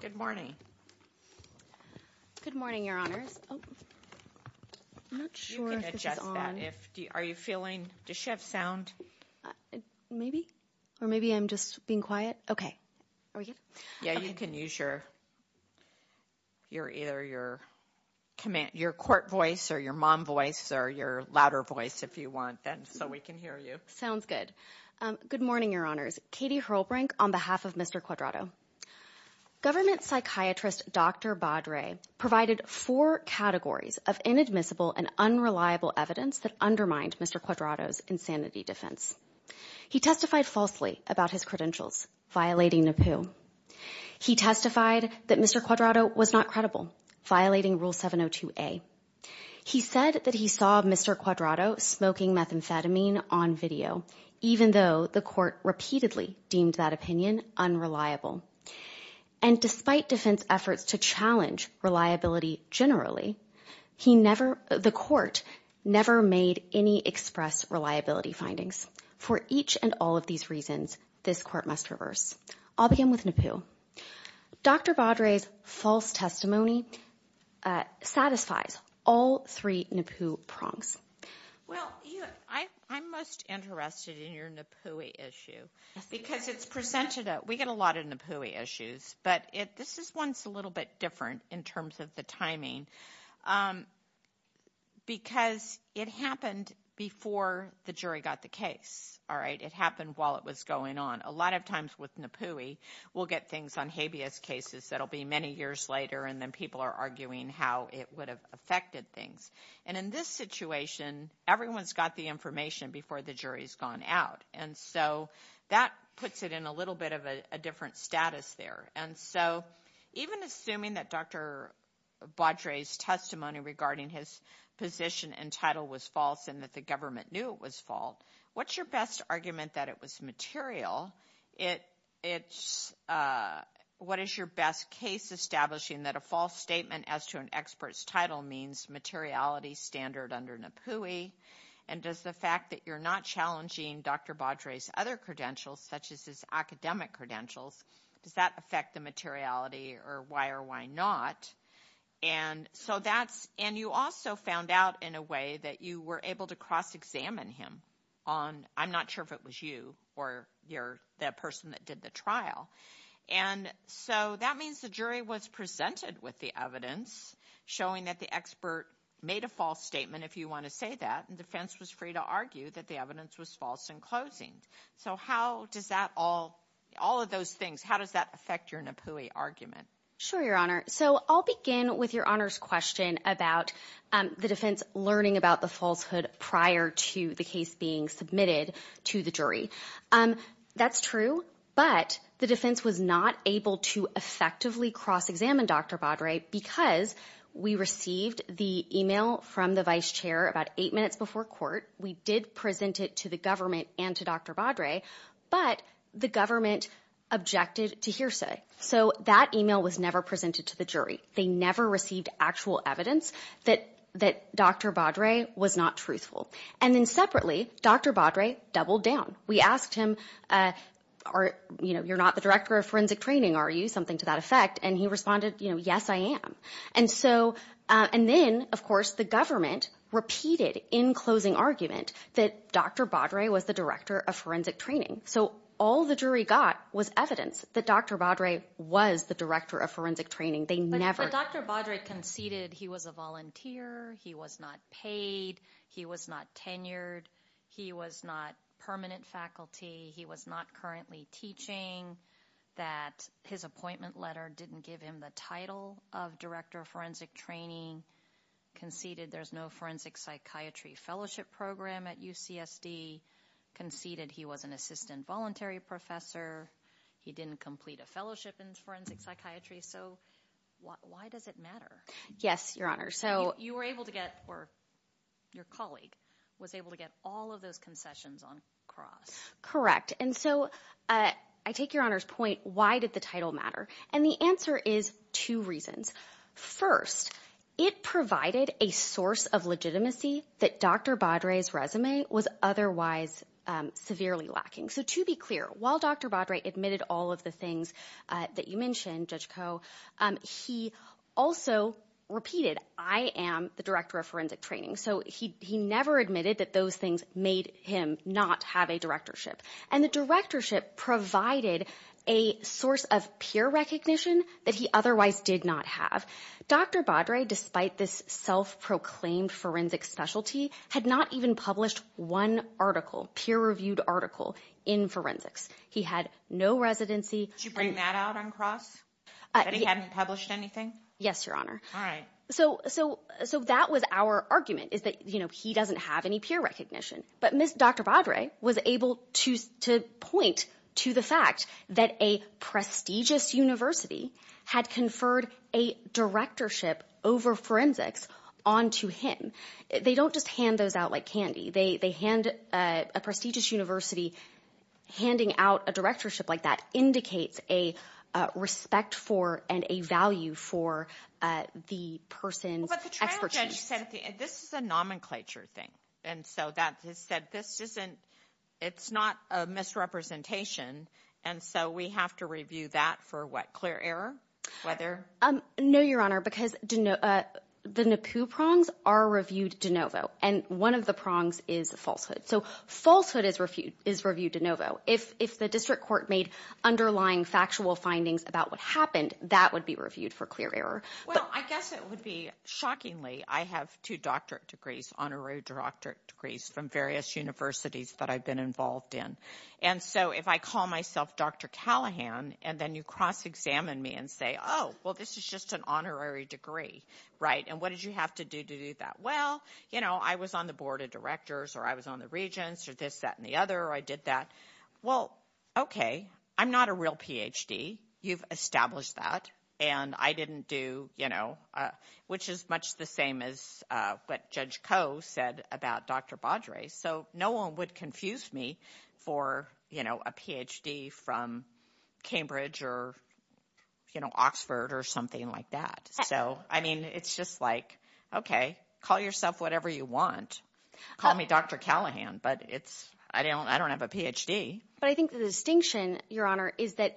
Good morning. Good morning, Your Honors. I'm not sure if it's on. You can adjust that. Are you feeling, does she have sound? Maybe. Or maybe I'm just being quiet. Okay. Are we good? Yeah, you can use either your court voice or your mom voice or your louder voice if you want, so we can hear you. Sounds good. Good morning, Your Honors. Katie Hurlbrink on behalf of Mr. Cuadrado. Government psychiatrist Dr. Badre provided four categories of inadmissible and unreliable evidence that undermined Mr. Cuadrado's insanity defense. He testified falsely about his credentials, violating NAPU. He testified that Mr. Cuadrado was not credible, violating Rule 702A. He said that he saw Mr. Cuadrado smoking methamphetamine on video, even though the court repeatedly deemed that opinion unreliable. And despite defense efforts to challenge reliability generally, he never, the court never made any express reliability findings. For each and all of these reasons, this court must reverse. I'll begin with NAPU. Dr. Badre's false testimony satisfies all three NAPU prongs. Well, I'm most interested in your NAPUI issue because it's presented, we get a lot of NAPUI issues, but this is one that's a little bit different in terms of the timing because it happened before the jury got the case. All right. It happened while it was going on. A lot of times with NAPUI, we'll get things on habeas cases that'll be many years later, and then people are arguing how it would have affected things. And in this situation, everyone's got the information before the jury's gone out. And so that puts it in a little bit of a different status there. And so even assuming that Dr. Badre's testimony regarding his position and title was false and that the government knew it was false, what's your best argument that it was material? What is your best case establishing that a false statement as to an expert's title means materiality standard under NAPUI? And does the fact that you're not challenging Dr. Badre's other credentials, such as his academic credentials, does that affect the materiality or why or why not? And you also found out in a way that you were able to cross-examine him on I'm not sure if it was you or the person that did the trial. And so that means the jury was presented with the evidence showing that the expert made a false statement, if you want to say that, and defense was free to argue that the evidence was false in closing. So how does that all all of those things, how does that affect your NAPUI argument? Sure, Your Honor. So I'll begin with Your Honor's question about the defense learning about the falsehood prior to the case being submitted to the jury. That's true. But the defense was not able to effectively cross-examine Dr. Badre because we received the email from the vice chair about eight minutes before court. We did present it to the government and to Dr. Badre, but the government objected to hearsay. So that email was never presented to the jury. They never received actual evidence that that Dr. Badre was not truthful. And then separately, Dr. Badre doubled down. We asked him, you're not the director of forensic training, are you? Something to that effect. And he responded, yes, I am. And so and then, of course, the government repeated in closing argument that Dr. Badre was the director of forensic training. So all the jury got was evidence that Dr. Badre was the director of forensic training. But Dr. Badre conceded he was a volunteer. He was not paid. He was not tenured. He was not permanent faculty. He was not currently teaching. That his appointment letter didn't give him the title of director of forensic training. Conceded there's no forensic psychiatry fellowship program at UCSD. Conceded he was an assistant voluntary professor. He didn't complete a fellowship in forensic psychiatry. So why does it matter? Yes, your honor. So you were able to get or your colleague was able to get all of those concessions on cross. Correct. And so I take your honor's point. Why did the title matter? And the answer is two reasons. First, it provided a source of legitimacy that Dr. Badre's resume was otherwise severely lacking. So to be clear, while Dr. Badre admitted all of the things that you mentioned, Judge Koh, he also repeated, I am the director of forensic training. So he he never admitted that those things made him not have a directorship. And the directorship provided a source of peer recognition that he otherwise did not have. Dr. Badre, despite this self-proclaimed forensic specialty, had not even published one article, peer reviewed article in forensics. He had no residency to bring that out on cross. He hadn't published anything. Yes, your honor. All right. So so so that was our argument is that, you know, he doesn't have any peer recognition. But Dr. Badre was able to to point to the fact that a prestigious university had conferred a directorship over forensics on to him. They don't just hand those out like candy. They they hand a prestigious university handing out a directorship like that indicates a respect for and a value for the person. But the trial judge said this is a nomenclature thing. And so that has said this isn't it's not a misrepresentation. And so we have to review that for what? Clear error? Whether? No, your honor, because the NAPU prongs are reviewed de novo. And one of the prongs is falsehood. So falsehood is refute is reviewed de novo. If if the district court made underlying factual findings about what happened, that would be reviewed for clear error. Well, I guess it would be shockingly. I have two doctorate degrees, honorary doctorate degrees from various universities that I've been involved in. And so if I call myself Dr. Callahan and then you cross examine me and say, oh, well, this is just an honorary degree. Right. And what did you have to do to do that? Well, you know, I was on the board of directors or I was on the regents or this, that and the other. I did that. Well, OK, I'm not a real Ph.D. You've established that. And I didn't do, you know, which is much the same as what Judge Koh said about Dr. Baudry. So no one would confuse me for, you know, a Ph.D. from Cambridge or, you know, Oxford or something like that. So, I mean, it's just like, OK, call yourself whatever you want. Call me Dr. Callahan. But it's I don't I don't have a Ph.D. But I think the distinction, Your Honor, is that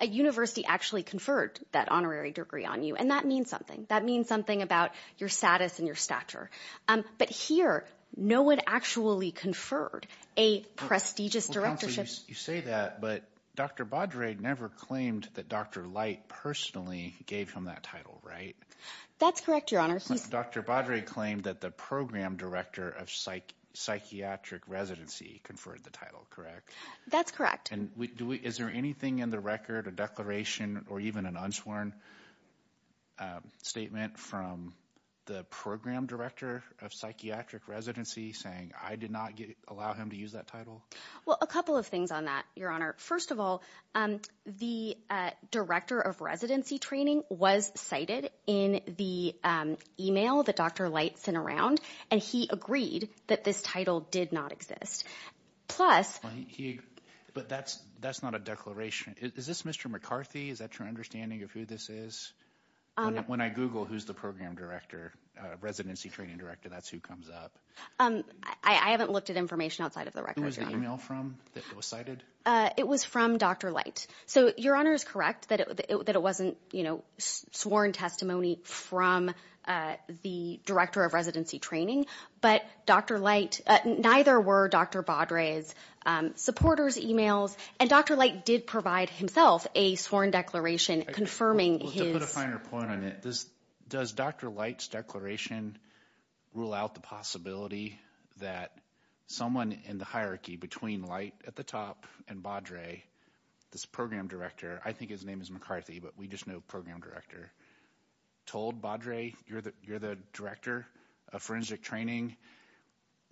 a university actually conferred that honorary degree on you. And that means something. That means something about your status and your stature. But here, no one actually conferred a prestigious directorships. You say that, but Dr. Baudry never claimed that Dr. Light personally gave him that title. Right. That's correct, Your Honor. Dr. Baudry claimed that the program director of psych psychiatric residency conferred the title. Correct. That's correct. And is there anything in the record, a declaration or even an unsworn statement from the program director of psychiatric residency saying I did not allow him to use that title? Well, a couple of things on that, Your Honor. First of all, the director of residency training was cited in the email that Dr. Light sent around. And he agreed that this title did not exist. Plus he. But that's that's not a declaration. Is this Mr. McCarthy? Is that your understanding of who this is? When I Google who's the program director, residency training director, that's who comes up. I haven't looked at information outside of the record. Was the email from that was cited? It was from Dr. Light. So Your Honor is correct that it that it wasn't, you know, sworn testimony from the director of residency training. But Dr. Light, neither were Dr. Baudry's supporters emails. And Dr. Light did provide himself a sworn declaration confirming his. To put a finer point on it, this does Dr. Light's declaration rule out the possibility that someone in the hierarchy between light at the top and Baudry, this program director. I think his name is McCarthy, but we just know program director told Baudry, you're the you're the director of forensic training,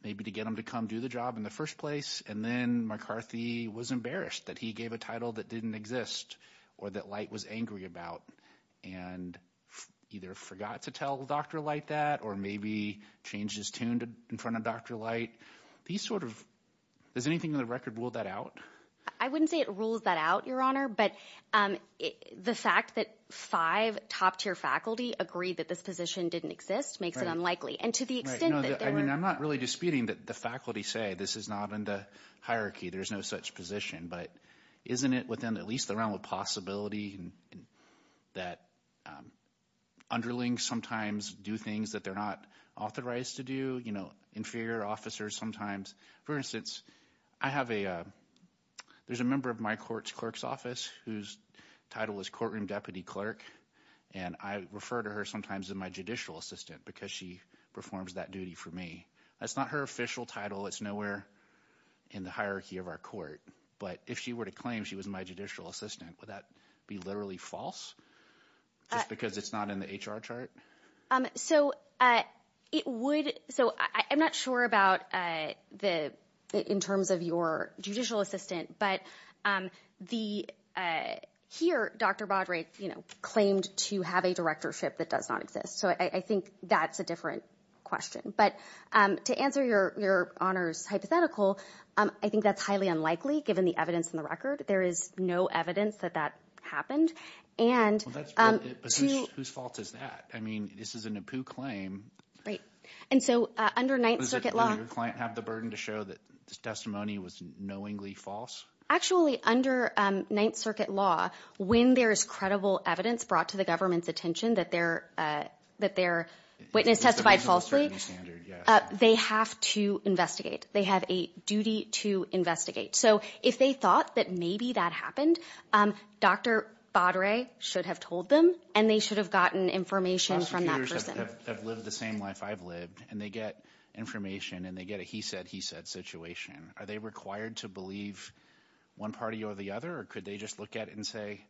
maybe to get him to come do the job in the first place. And then McCarthy was embarrassed that he gave a title that didn't exist or that light was angry about and either forgot to tell Dr. Light that or maybe changed his tune in front of Dr. Light. These sort of there's anything in the record. Will that out? I wouldn't say it rules that out, Your Honor. But the fact that five top tier faculty agree that this position didn't exist makes it unlikely. And to the extent that I'm not really disputing that the faculty say this is not in the hierarchy, there's no such position. But isn't it within at least the realm of possibility that underling sometimes do things that they're not authorized to do? You know, inferior officers sometimes. For instance, I have a there's a member of my court's clerk's office whose title is courtroom deputy clerk. And I refer to her sometimes in my judicial assistant because she performs that duty for me. That's not her official title. It's nowhere in the hierarchy of our court. But if she were to claim she was my judicial assistant, would that be literally false because it's not in the HR chart? So it would. So I'm not sure about the in terms of your judicial assistant. But the here, Dr. Baudry, you know, claimed to have a directorship that does not exist. So I think that's a different question. But to answer your honor's hypothetical, I think that's highly unlikely. Given the evidence in the record, there is no evidence that that happened. And whose fault is that? I mean, this is an approved claim. Right. And so under Ninth Circuit law, your client have the burden to show that this testimony was knowingly false. Actually, under Ninth Circuit law, when there is credible evidence brought to the government's attention that they're that they're witness testified falsely. They have to investigate. They have a duty to investigate. So if they thought that maybe that happened, Dr. Baudry should have told them and they should have gotten information from that person. I've lived the same life I've lived and they get information and they get a he said, he said situation. Are they required to believe one party or the other? Or could they just look at it and say,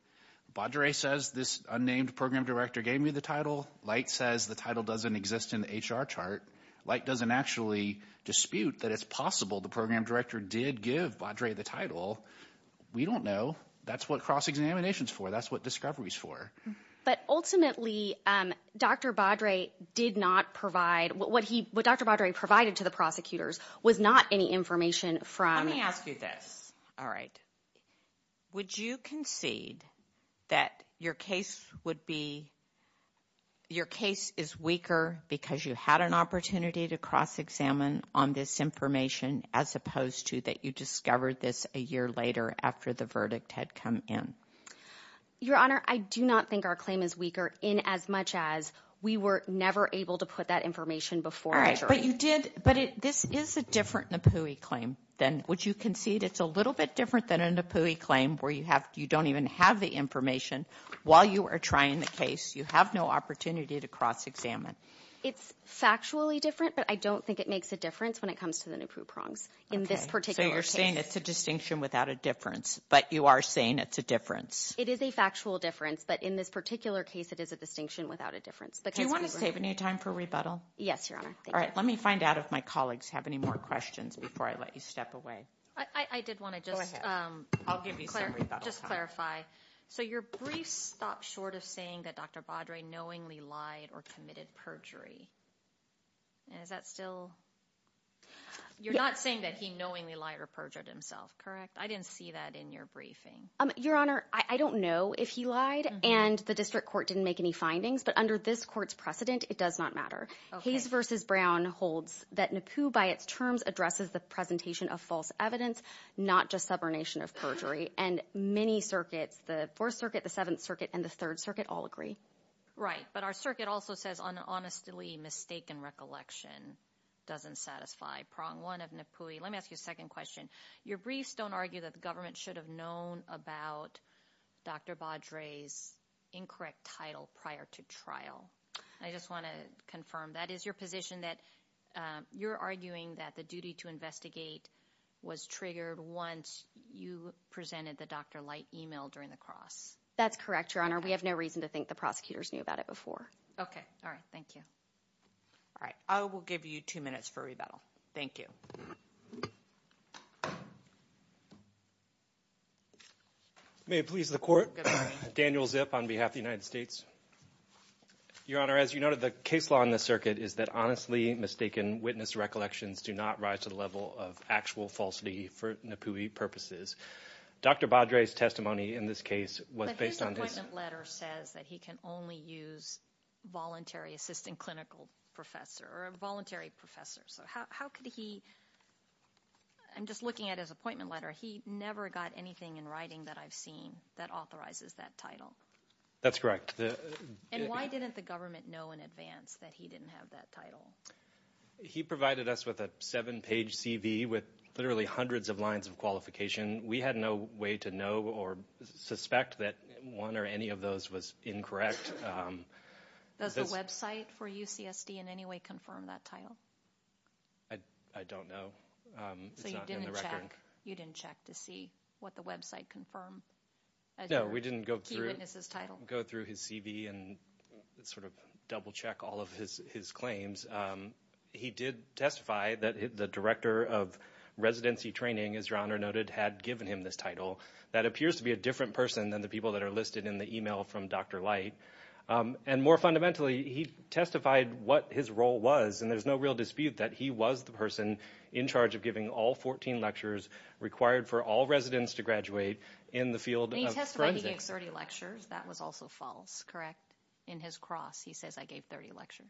Baudry says this unnamed program director gave me the title. Light says the title doesn't exist in the HR chart. Light doesn't actually dispute that it's possible the program director did give Baudry the title. We don't know. That's what cross examinations for. That's what discovery is for. But ultimately, Dr. Baudry did not provide what he what Dr. Baudry provided to the prosecutors was not any information from. Let me ask you this. All right. Would you concede that your case would be your case is weaker because you had an opportunity to cross examine on this information as opposed to that? You discovered this a year later after the verdict had come in. Your Honor, I do not think our claim is weaker in as much as we were never able to put that information before. All right. But you did. But this is a different NAPUI claim than what you concede. It's a little bit different than a NAPUI claim where you have you don't even have the information while you are trying the case. You have no opportunity to cross examine. It's factually different. But I don't think it makes a difference when it comes to the NAPUI prongs in this particular state. It's a distinction without a difference. But you are saying it's a difference. It is a factual difference. But in this particular case, it is a distinction without a difference. Do you want to save any time for rebuttal? Yes, Your Honor. All right. Let me find out if my colleagues have any more questions before I let you step away. I did want to just clarify. So your briefs stop short of saying that Dr. Baudre knowingly lied or committed perjury. Is that still you're not saying that he knowingly lied or perjured himself. Correct. I didn't see that in your briefing. Your Honor, I don't know if he lied and the district court didn't make any findings. But under this court's precedent, it does not matter. Hayes versus Brown holds that NAPUI, by its terms, addresses the presentation of false evidence, not just subordination of perjury. And many circuits, the Fourth Circuit, the Seventh Circuit and the Third Circuit all agree. Right. But our circuit also says an honestly mistaken recollection doesn't satisfy prong one of NAPUI. Let me ask you a second question. Your briefs don't argue that the government should have known about Dr. Baudre's incorrect title prior to trial. I just want to confirm that is your position that you're arguing that the duty to investigate was triggered once you presented the doctor light email during the cross. That's correct, Your Honor. We have no reason to think the prosecutors knew about it before. OK. All right. Thank you. All right. I will give you two minutes for rebuttal. Thank you. May it please the court. Daniel Zip on behalf of the United States. Your Honor, as you noted, the case law in the circuit is that honestly mistaken witness recollections do not rise to the level of actual falsity for NAPUI purposes. Dr. Baudre's testimony in this case was based on this letter says that he can only use voluntary assistant clinical professor or a voluntary professor. So how could he. I'm just looking at his appointment letter. He never got anything in writing that I've seen that authorizes that title. That's correct. And why didn't the government know in advance that he didn't have that title. He provided us with a seven page CV with literally hundreds of lines of qualification. We had no way to know or suspect that one or any of those was incorrect. Does the Web site for UCSD in any way confirm that title. I don't know. So you didn't check. You didn't check to see what the Web site confirm. No, we didn't go through this title, go through his CV and sort of double check all of his claims. He did testify that the director of residency training, as your honor noted, had given him this title. That appears to be a different person than the people that are listed in the email from Dr. Light. And more fundamentally, he testified what his role was. And there's no real dispute that he was the person in charge of giving all 14 lectures required for all residents to graduate in the field. He testified he gave 30 lectures. That was also false. Correct. In his cross, he says, I gave 30 lecture.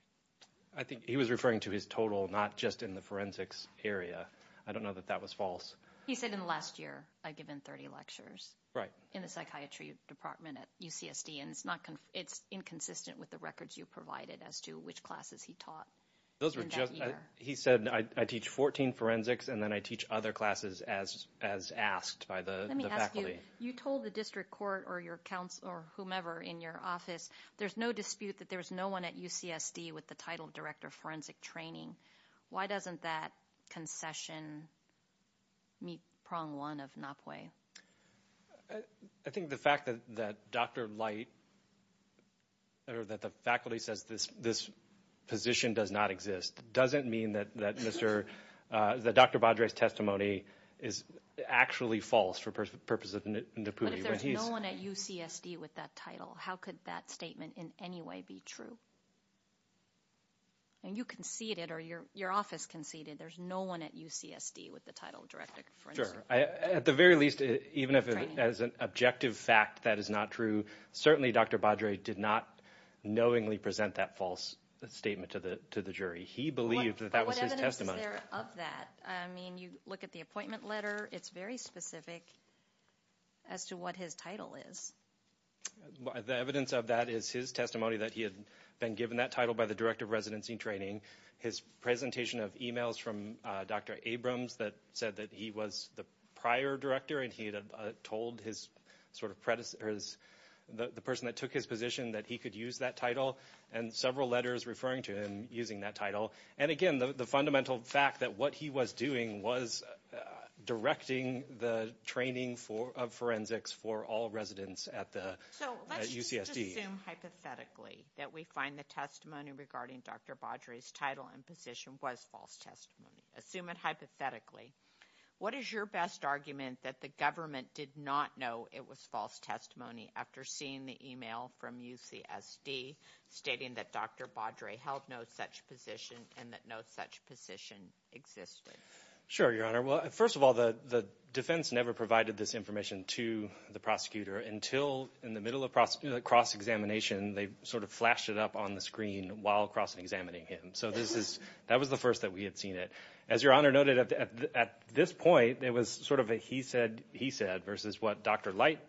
I think he was referring to his total, not just in the forensics area. I don't know that that was false. He said in the last year I've given 30 lectures right in the psychiatry department at UCSD. And it's not it's inconsistent with the records you provided as to which classes he taught. Those were just he said, I teach 14 forensics and then I teach other classes as as asked by the faculty. You told the district court or your counsel or whomever in your office. There's no dispute that there was no one at UCSD with the title of director of forensic training. Why doesn't that concession meet prong one of Napoli? I think the fact that that Dr. Light. Or that the faculty says this, this position does not exist. Doesn't mean that that Mr. Dr. Badre's testimony is actually false for the purpose of NAPURI. He's known at UCSD with that title. How could that statement in any way be true? And you conceded or your your office conceded there's no one at UCSD with the title of director. Sure. At the very least, even if as an objective fact, that is not true. Certainly, Dr. Badre did not knowingly present that false statement to the to the jury. He believed that that was his testimony of that. I mean, you look at the appointment letter. It's very specific. As to what his title is. The evidence of that is his testimony that he had been given that title by the director of residency training. His presentation of e-mails from Dr. Abrams that said that he was the prior director and he had told his sort of predecessors, the person that took his position, that he could use that title and several letters referring to him using that title. And again, the fundamental fact that what he was doing was directing the training for of forensics for all residents at the UCSD. Hypothetically, that we find the testimony regarding Dr. Badre's title and position was false testimony. Assume it hypothetically. What is your best argument that the government did not know it was false testimony after seeing the e-mail from UCSD stating that Dr. Badre held no such position and that no such position existed? Sure, Your Honor. Well, first of all, the defense never provided this information to the prosecutor until in the middle of cross examination. They sort of flashed it up on the screen while cross examining him. So this is that was the first that we had seen it. As Your Honor noted, at this point, there was sort of a he said he said versus what Dr. Light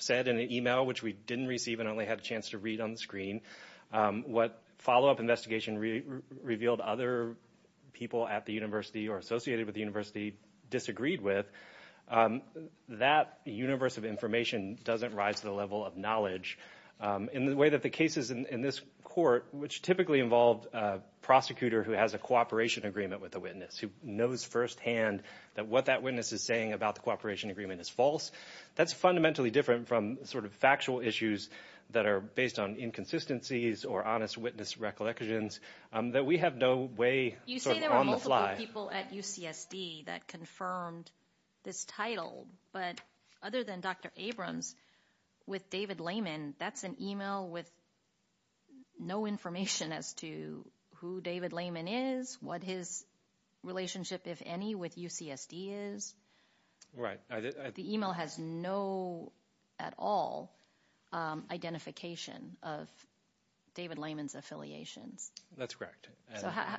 said in an e-mail which we didn't receive and only had a chance to read on the screen. What follow up investigation revealed other people at the university or associated with the university disagreed with. That universe of information doesn't rise to the level of knowledge in the way that the cases in this court, which typically involved a prosecutor who has a cooperation agreement with a witness who knows firsthand that what that witness is saying about the cooperation agreement is false. That's fundamentally different from sort of factual issues that are based on inconsistencies or honest witness recollections that we have no way on the fly. People at UCSD that confirmed this title. But other than Dr. Abrams with David Lehman, that's an e-mail with. No information as to who David Lehman is, what his relationship, if any, with UCSD is. Right. The e-mail has no at all identification of David Lehman's affiliations. That's correct.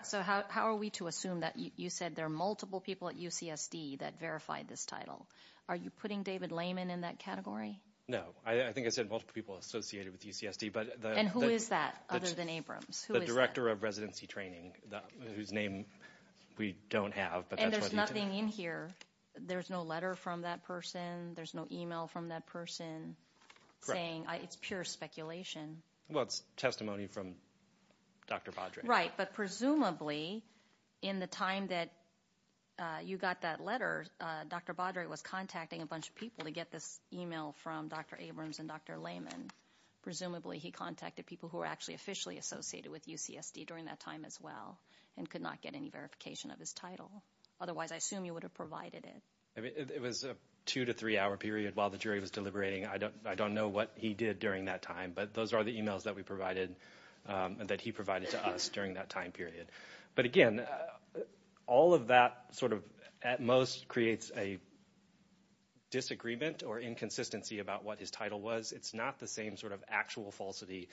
So how are we to assume that you said there are multiple people at UCSD that verified this title? Are you putting David Lehman in that category? No. I think I said multiple people associated with UCSD. And who is that other than Abrams? The director of residency training whose name we don't have. And there's nothing in here. There's no letter from that person. There's no e-mail from that person saying it's pure speculation. Well, it's testimony from Dr. Baudry. Right. But presumably in the time that you got that letter, Dr. Baudry was contacting a bunch of people to get this e-mail from Dr. Abrams and Dr. Lehman. Presumably he contacted people who were actually officially associated with UCSD during that time as well and could not get any verification of his title. Otherwise, I assume you would have provided it. It was a two- to three-hour period while the jury was deliberating. I don't know what he did during that time, but those are the e-mails that we provided, that he provided to us during that time period. But, again, all of that sort of at most creates a disagreement or inconsistency about what his title was. It's not the same sort of actual falsity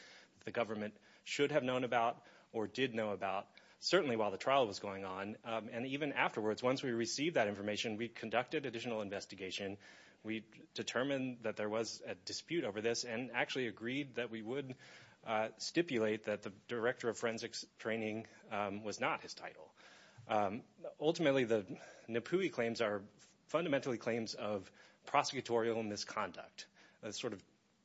the government should have known about or did know about, certainly while the trial was going on. And even afterwards, once we received that information, we conducted additional investigation. We determined that there was a dispute over this and actually agreed that we would stipulate that the director of forensics training was not his title. Ultimately, the NAPUI claims are fundamentally claims of prosecutorial misconduct, a sort of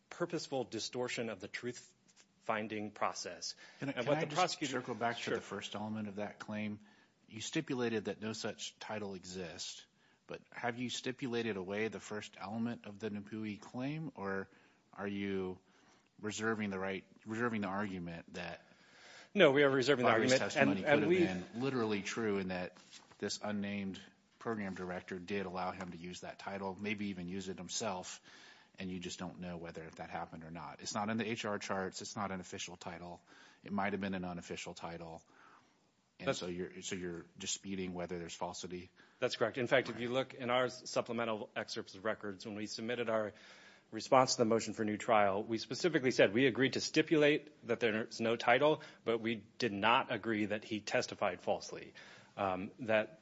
purposeful distortion of the truth-finding process. Can I just circle back to the first element of that claim? You stipulated that no such title exists, but have you stipulated away the first element of the NAPUI claim, or are you reserving the argument that – No, we are reserving the argument. This testimony could have been literally true in that this unnamed program director did allow him to use that title, maybe even use it himself, and you just don't know whether that happened or not. It's not in the HR charts. It's not an official title. It might have been an unofficial title, and so you're disputing whether there's falsity? That's correct. In fact, if you look in our supplemental excerpts of records, when we submitted our response to the motion for a new trial, we specifically said we agreed to stipulate that there is no title, but we did not agree that he testified falsely, that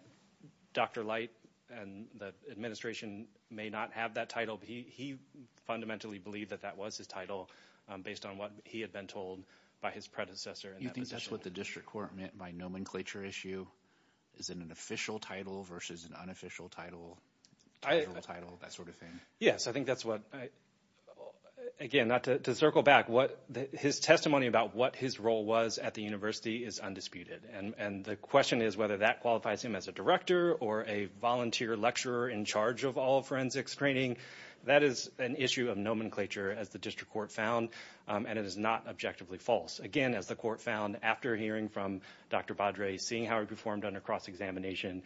Dr. Light and the administration may not have that title. He fundamentally believed that that was his title based on what he had been told by his predecessor in that position. Do you think that's what the district court meant by nomenclature issue? Is it an official title versus an unofficial title, that sort of thing? Yes, I think that's what, again, not to circle back, his testimony about what his role was at the university is undisputed, and the question is whether that qualifies him as a director or a volunteer lecturer in charge of all forensics training. That is an issue of nomenclature, as the district court found, and it is not objectively false. Again, as the court found after hearing from Dr. Badre, seeing how he performed under cross-examination,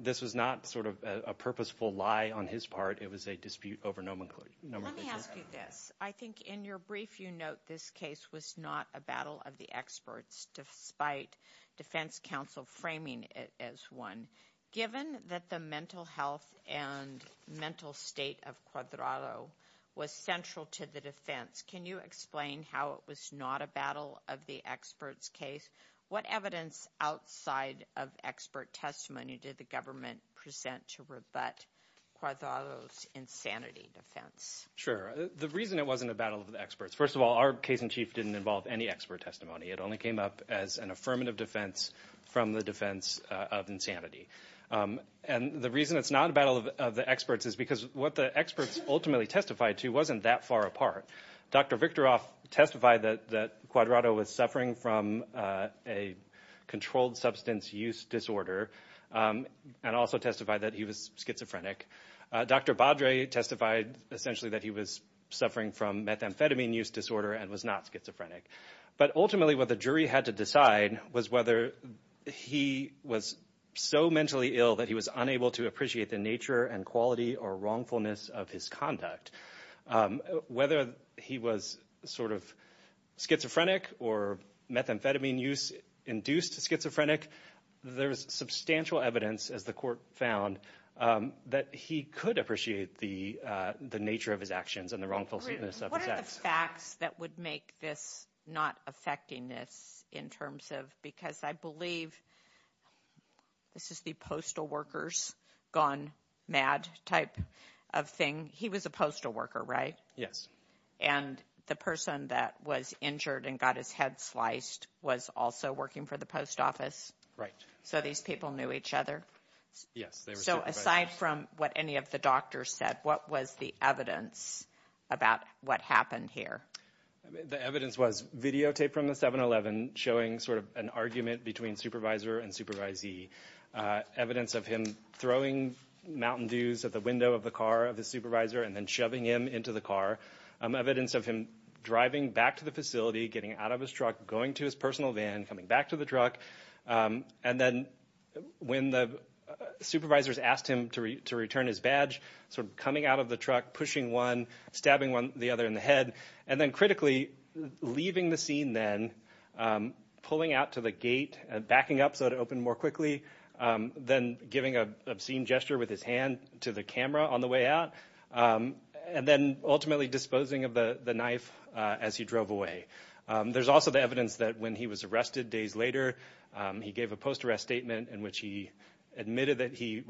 this was not sort of a purposeful lie on his part. It was a dispute over nomenclature. Let me ask you this. I think in your brief you note this case was not a battle of the experts, despite defense counsel framing it as one. Given that the mental health and mental state of Cuadrado was central to the defense, can you explain how it was not a battle of the experts' case? What evidence outside of expert testimony did the government present to rebut Cuadrado's insanity defense? Sure. The reason it wasn't a battle of the experts, first of all, our case in chief didn't involve any expert testimony. It only came up as an affirmative defense from the defense of insanity. And the reason it's not a battle of the experts is because what the experts ultimately testified to wasn't that far apart. Dr. Victoroff testified that Cuadrado was suffering from a controlled substance use disorder and also testified that he was schizophrenic. Dr. Badre testified essentially that he was suffering from methamphetamine use disorder and was not schizophrenic. But ultimately what the jury had to decide was whether he was so mentally ill that he was unable to appreciate the nature and quality or wrongfulness of his conduct. Whether he was sort of schizophrenic or methamphetamine use-induced schizophrenic, there's substantial evidence, as the court found, that he could appreciate the nature of his actions and the wrongfulness of his acts. Are there facts that would make this not effecting this in terms of, because I believe this is the postal worker's gone mad type of thing. He was a postal worker, right? Yes. And the person that was injured and got his head sliced was also working for the post office? Right. So these people knew each other? Yes. So aside from what any of the doctors said, what was the evidence about what happened here? The evidence was videotape from the 7-11 showing sort of an argument between supervisor and supervisee. Evidence of him throwing Mountain Dews at the window of the car of the supervisor and then shoving him into the car. Evidence of him driving back to the facility, getting out of his truck, going to his personal van, coming back to the truck. And then when the supervisors asked him to return his badge, sort of coming out of the truck, pushing one, stabbing the other in the head, and then critically leaving the scene then, pulling out to the gate, backing up so it would open more quickly, then giving an obscene gesture with his hand to the camera on the way out, and then ultimately disposing of the knife as he drove away. There's also the evidence that when he was arrested days later, he gave a post-arrest statement in which he admitted that he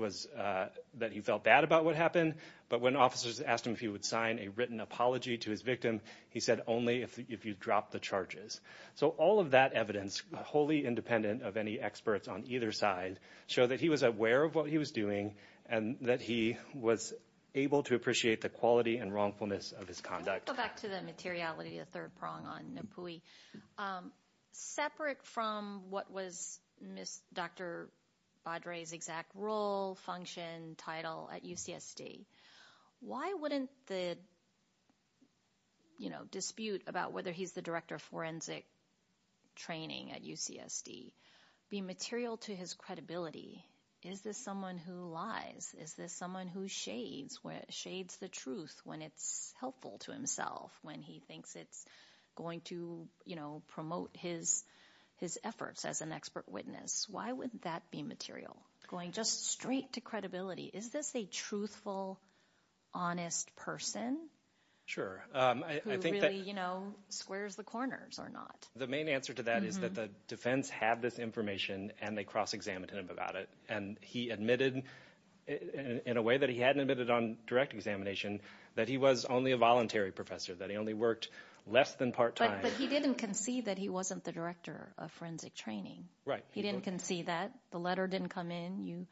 felt bad about what happened, but when officers asked him if he would sign a written apology to his victim, he said only if you drop the charges. So all of that evidence, wholly independent of any experts on either side, showed that he was aware of what he was doing and that he was able to appreciate the quality and wrongfulness of his conduct. I want to go back to the materiality of the third prong on Napui. Separate from what was Dr. Badre's exact role, function, title at UCSD, why wouldn't the dispute about whether he's the director of forensic training at UCSD be material to his credibility? Is this someone who lies? Is this someone who shades the truth when it's helpful to himself, when he thinks it's going to promote his efforts as an expert witness? Why wouldn't that be material? Going just straight to credibility, is this a truthful, honest person? Sure. Who really squares the corners or not? The main answer to that is that the defense had this information and they cross-examined him about it, and he admitted in a way that he hadn't admitted on direct examination that he was only a voluntary professor, that he only worked less than part-time. But he didn't concede that he wasn't the director of forensic training. Right. He didn't concede that. The letter didn't come in.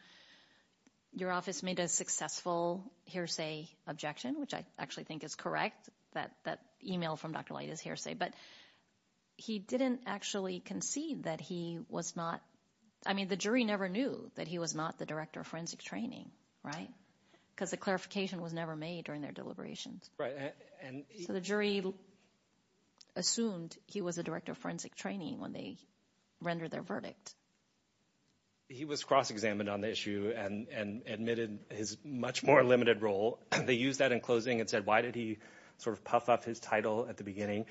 Your office made a successful hearsay objection, which I actually think is correct, that email from Dr. Light is hearsay, but he didn't actually concede that he was not. I mean, the jury never knew that he was not the director of forensic training. Right? Because the clarification was never made during their deliberations. So the jury assumed he was the director of forensic training when they rendered their verdict. He was cross-examined on the issue and admitted his much more limited role. They used that in closing and said, why did he sort of puff up his title at the beginning?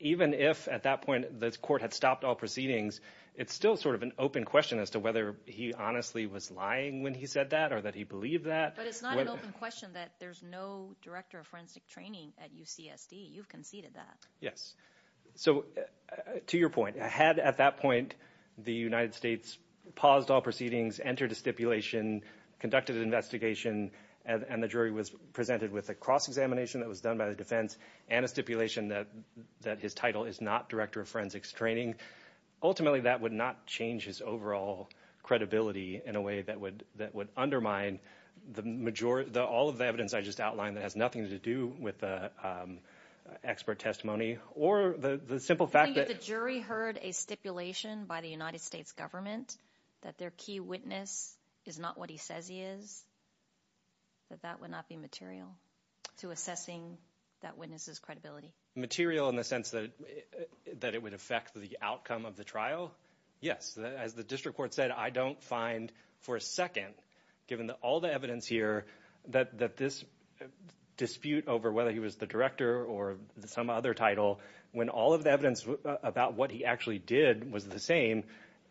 Even if at that point the court had stopped all proceedings, it's still sort of an open question as to whether he honestly was lying when he said that or that he believed that. But it's not an open question that there's no director of forensic training at UCSD. You've conceded that. Yes. So to your point, had at that point the United States paused all proceedings, entered a stipulation, conducted an investigation, and the jury was presented with a cross-examination that was done by the defense and a stipulation that his title is not director of forensics training, ultimately that would not change his overall credibility in a way that would undermine all of the evidence I just outlined that has nothing to do with the expert testimony or the simple fact that the jury heard a stipulation by the United States government that their key witness is not what he says he is, that that would not be material to assessing that witness's credibility. Material in the sense that it would affect the outcome of the trial? Yes. As the district court said, I don't find for a second, given all the evidence here, that this dispute over whether he was the director or some other title, when all of the evidence about what he actually did was the same,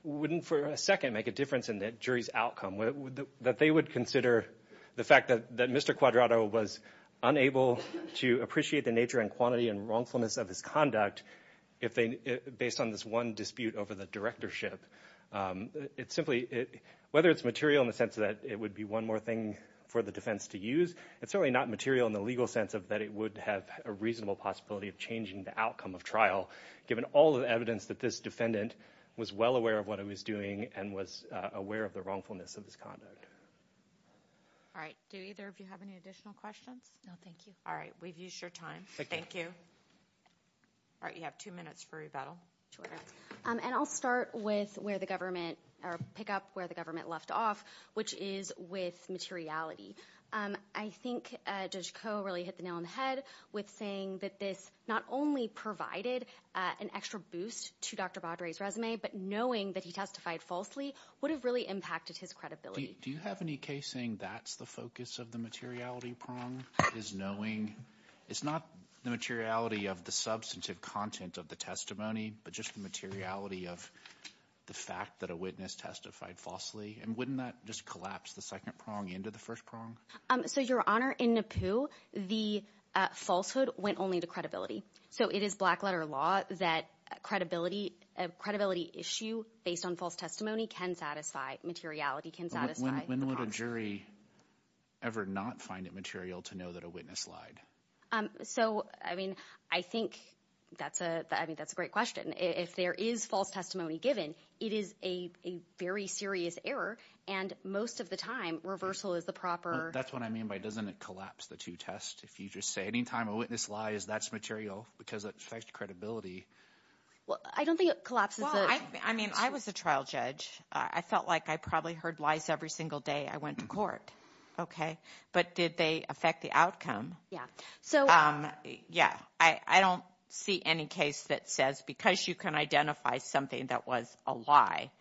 wouldn't for a second make a difference in the jury's outcome, that they would consider the fact that Mr. Quadrato was unable to appreciate the nature and quantity and wrongfulness of his conduct based on this one dispute over the directorship? Whether it's material in the sense that it would be one more thing for the defense to use, it's certainly not material in the legal sense that it would have a reasonable possibility of changing the outcome of trial, given all of the evidence that this defendant was well aware of what he was doing and was aware of the wrongfulness of his conduct. All right. Do either of you have any additional questions? No, thank you. All right. We've used your time. Thank you. All right. You have two minutes for rebuttal. Two minutes. And I'll start with where the government, or pick up where the government left off, which is with materiality. I think Judge Koh really hit the nail on the head with saying that this not only provided an extra boost to Dr. Baudry's resume, but knowing that he testified falsely would have really impacted his credibility. Do you have any case saying that's the focus of the materiality prong? It's not the materiality of the substantive content of the testimony, but just the materiality of the fact that a witness testified falsely? And wouldn't that just collapse the second prong into the first prong? So, Your Honor, in Nippu, the falsehood went only to credibility. So it is black-letter law that a credibility issue based on false testimony can satisfy. When would a jury ever not find it material to know that a witness lied? So, I mean, I think that's a great question. If there is false testimony given, it is a very serious error. And most of the time, reversal is the proper – That's what I mean by doesn't it collapse the two tests? If you just say any time a witness lies, that's material because it affects credibility. I don't think it collapses the – Well, I mean, I was a trial judge. I felt like I probably heard lies every single day I went to court. Okay? But did they affect the outcome? Yeah. I don't see any case that says because you can identify something that was a lie,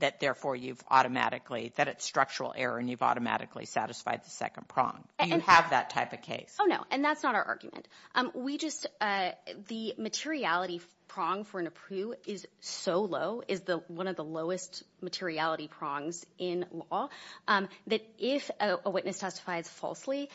that therefore you've automatically – that it's structural error and you've automatically satisfied the second prong. You have that type of case. Oh, no, and that's not our argument. We just – the materiality prong for Nippu is so low, is one of the lowest materiality prongs in law, that if a witness testifies falsely,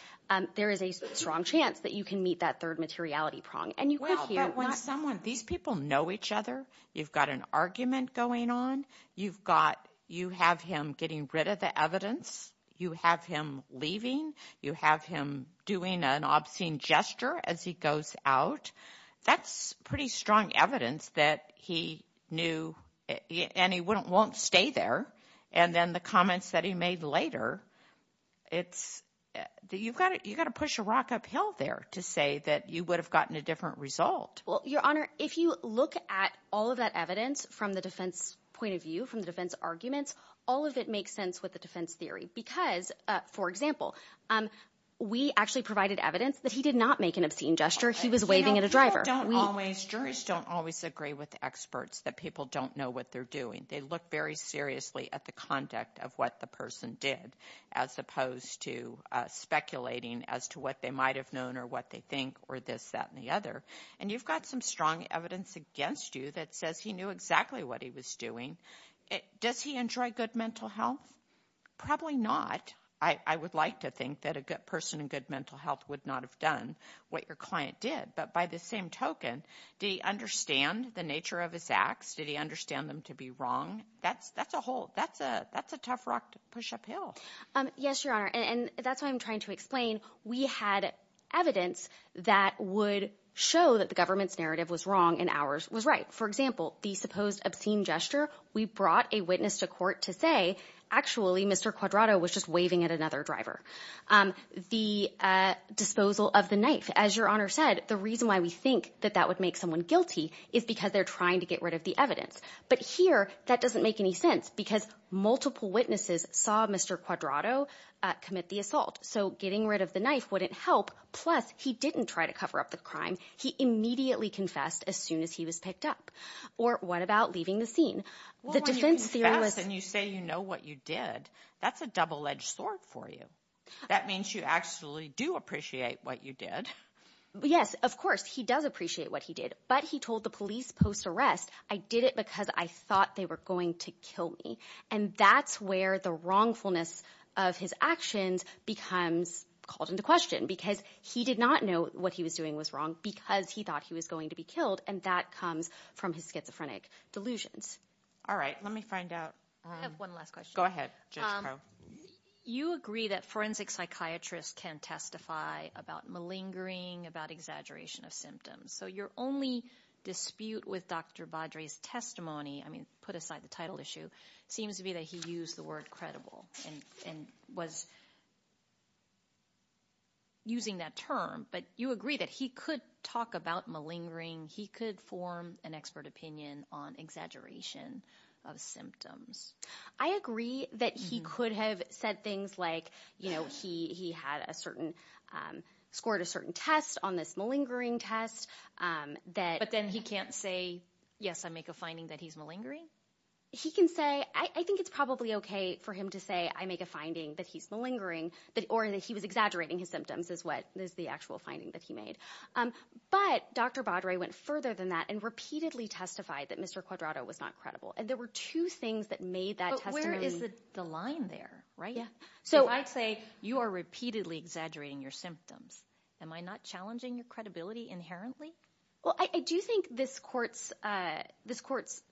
there is a strong chance that you can meet that third materiality prong. And you could hear – Well, but when someone – these people know each other. You've got an argument going on. You've got – you have him getting rid of the evidence. You have him leaving. You have him doing an obscene gesture as he goes out. That's pretty strong evidence that he knew – and he won't stay there. And then the comments that he made later, it's – you've got to push a rock uphill there to say that you would have gotten a different result. Well, Your Honor, if you look at all of that evidence from the defense point of view, from the defense arguments, all of it makes sense with the defense theory because, for example, we actually provided evidence that he did not make an obscene gesture. He was waving at a driver. People don't always – juries don't always agree with experts that people don't know what they're doing. They look very seriously at the conduct of what the person did as opposed to speculating as to what they might have known or what they think or this, that, and the other. And you've got some strong evidence against you that says he knew exactly what he was doing. Does he enjoy good mental health? Probably not. I would like to think that a person in good mental health would not have done what your client did. But by the same token, did he understand the nature of his acts? Did he understand them to be wrong? That's a whole – that's a tough rock to push uphill. Yes, Your Honor, and that's what I'm trying to explain. We had evidence that would show that the government's narrative was wrong and ours was right. For example, the supposed obscene gesture, we brought a witness to court to say, actually, Mr. Quadrato was just waving at another driver. The disposal of the knife, as Your Honor said, the reason why we think that that would make someone guilty is because they're trying to get rid of the evidence. But here, that doesn't make any sense because multiple witnesses saw Mr. Quadrato commit the assault, so getting rid of the knife wouldn't help. Plus, he didn't try to cover up the crime. He immediately confessed as soon as he was picked up. Or what about leaving the scene? Well, when you confess and you say you know what you did, that's a double-edged sword for you. That means you actually do appreciate what you did. Yes, of course, he does appreciate what he did, but he told the police post-arrest, I did it because I thought they were going to kill me. And that's where the wrongfulness of his actions becomes called into question because he did not know what he was doing was wrong because he thought he was going to be killed, and that comes from his schizophrenic delusions. All right, let me find out. I have one last question. Go ahead, Judge Crow. You agree that forensic psychiatrists can testify about malingering, about exaggeration of symptoms. So your only dispute with Dr. Baudry's testimony, I mean, put aside the title issue, seems to be that he used the word credible and was using that term. But you agree that he could talk about malingering, he could form an expert opinion on exaggeration of symptoms. I agree that he could have said things like, you know, he scored a certain test on this malingering test. But then he can't say, yes, I make a finding that he's malingering? He can say, I think it's probably okay for him to say, I make a finding that he's malingering, or that he was exaggerating his symptoms is the actual finding that he made. But Dr. Baudry went further than that and repeatedly testified that Mr. Quadrato was not credible, and there were two things that made that testimony. But where is the line there, right? Yeah. So I'd say you are repeatedly exaggerating your symptoms. Am I not challenging your credibility inherently? Well, I do think this court's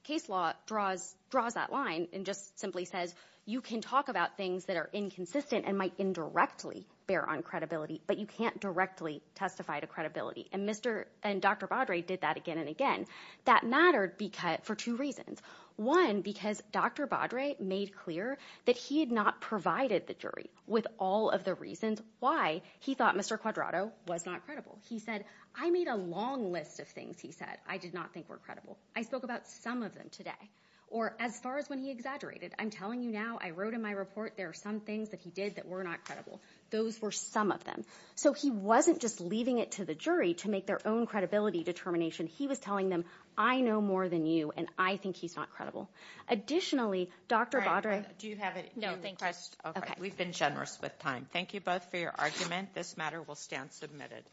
case law draws that line and just simply says you can talk about things that are inconsistent and might indirectly bear on credibility, but you can't directly testify to credibility. And Dr. Baudry did that again and again. That mattered for two reasons. One, because Dr. Baudry made clear that he had not provided the jury with all of the reasons why he thought Mr. Quadrato was not credible. He said, I made a long list of things he said I did not think were credible. I spoke about some of them today. Or as far as when he exaggerated, I'm telling you now, I wrote in my report there are some things that he did that were not credible. Those were some of them. So he wasn't just leaving it to the jury to make their own credibility determination. He was telling them, I know more than you, and I think he's not credible. Additionally, Dr. Baudry— Do you have a— No, thank you. We've been generous with time. Thank you both for your argument. This matter will stand submitted.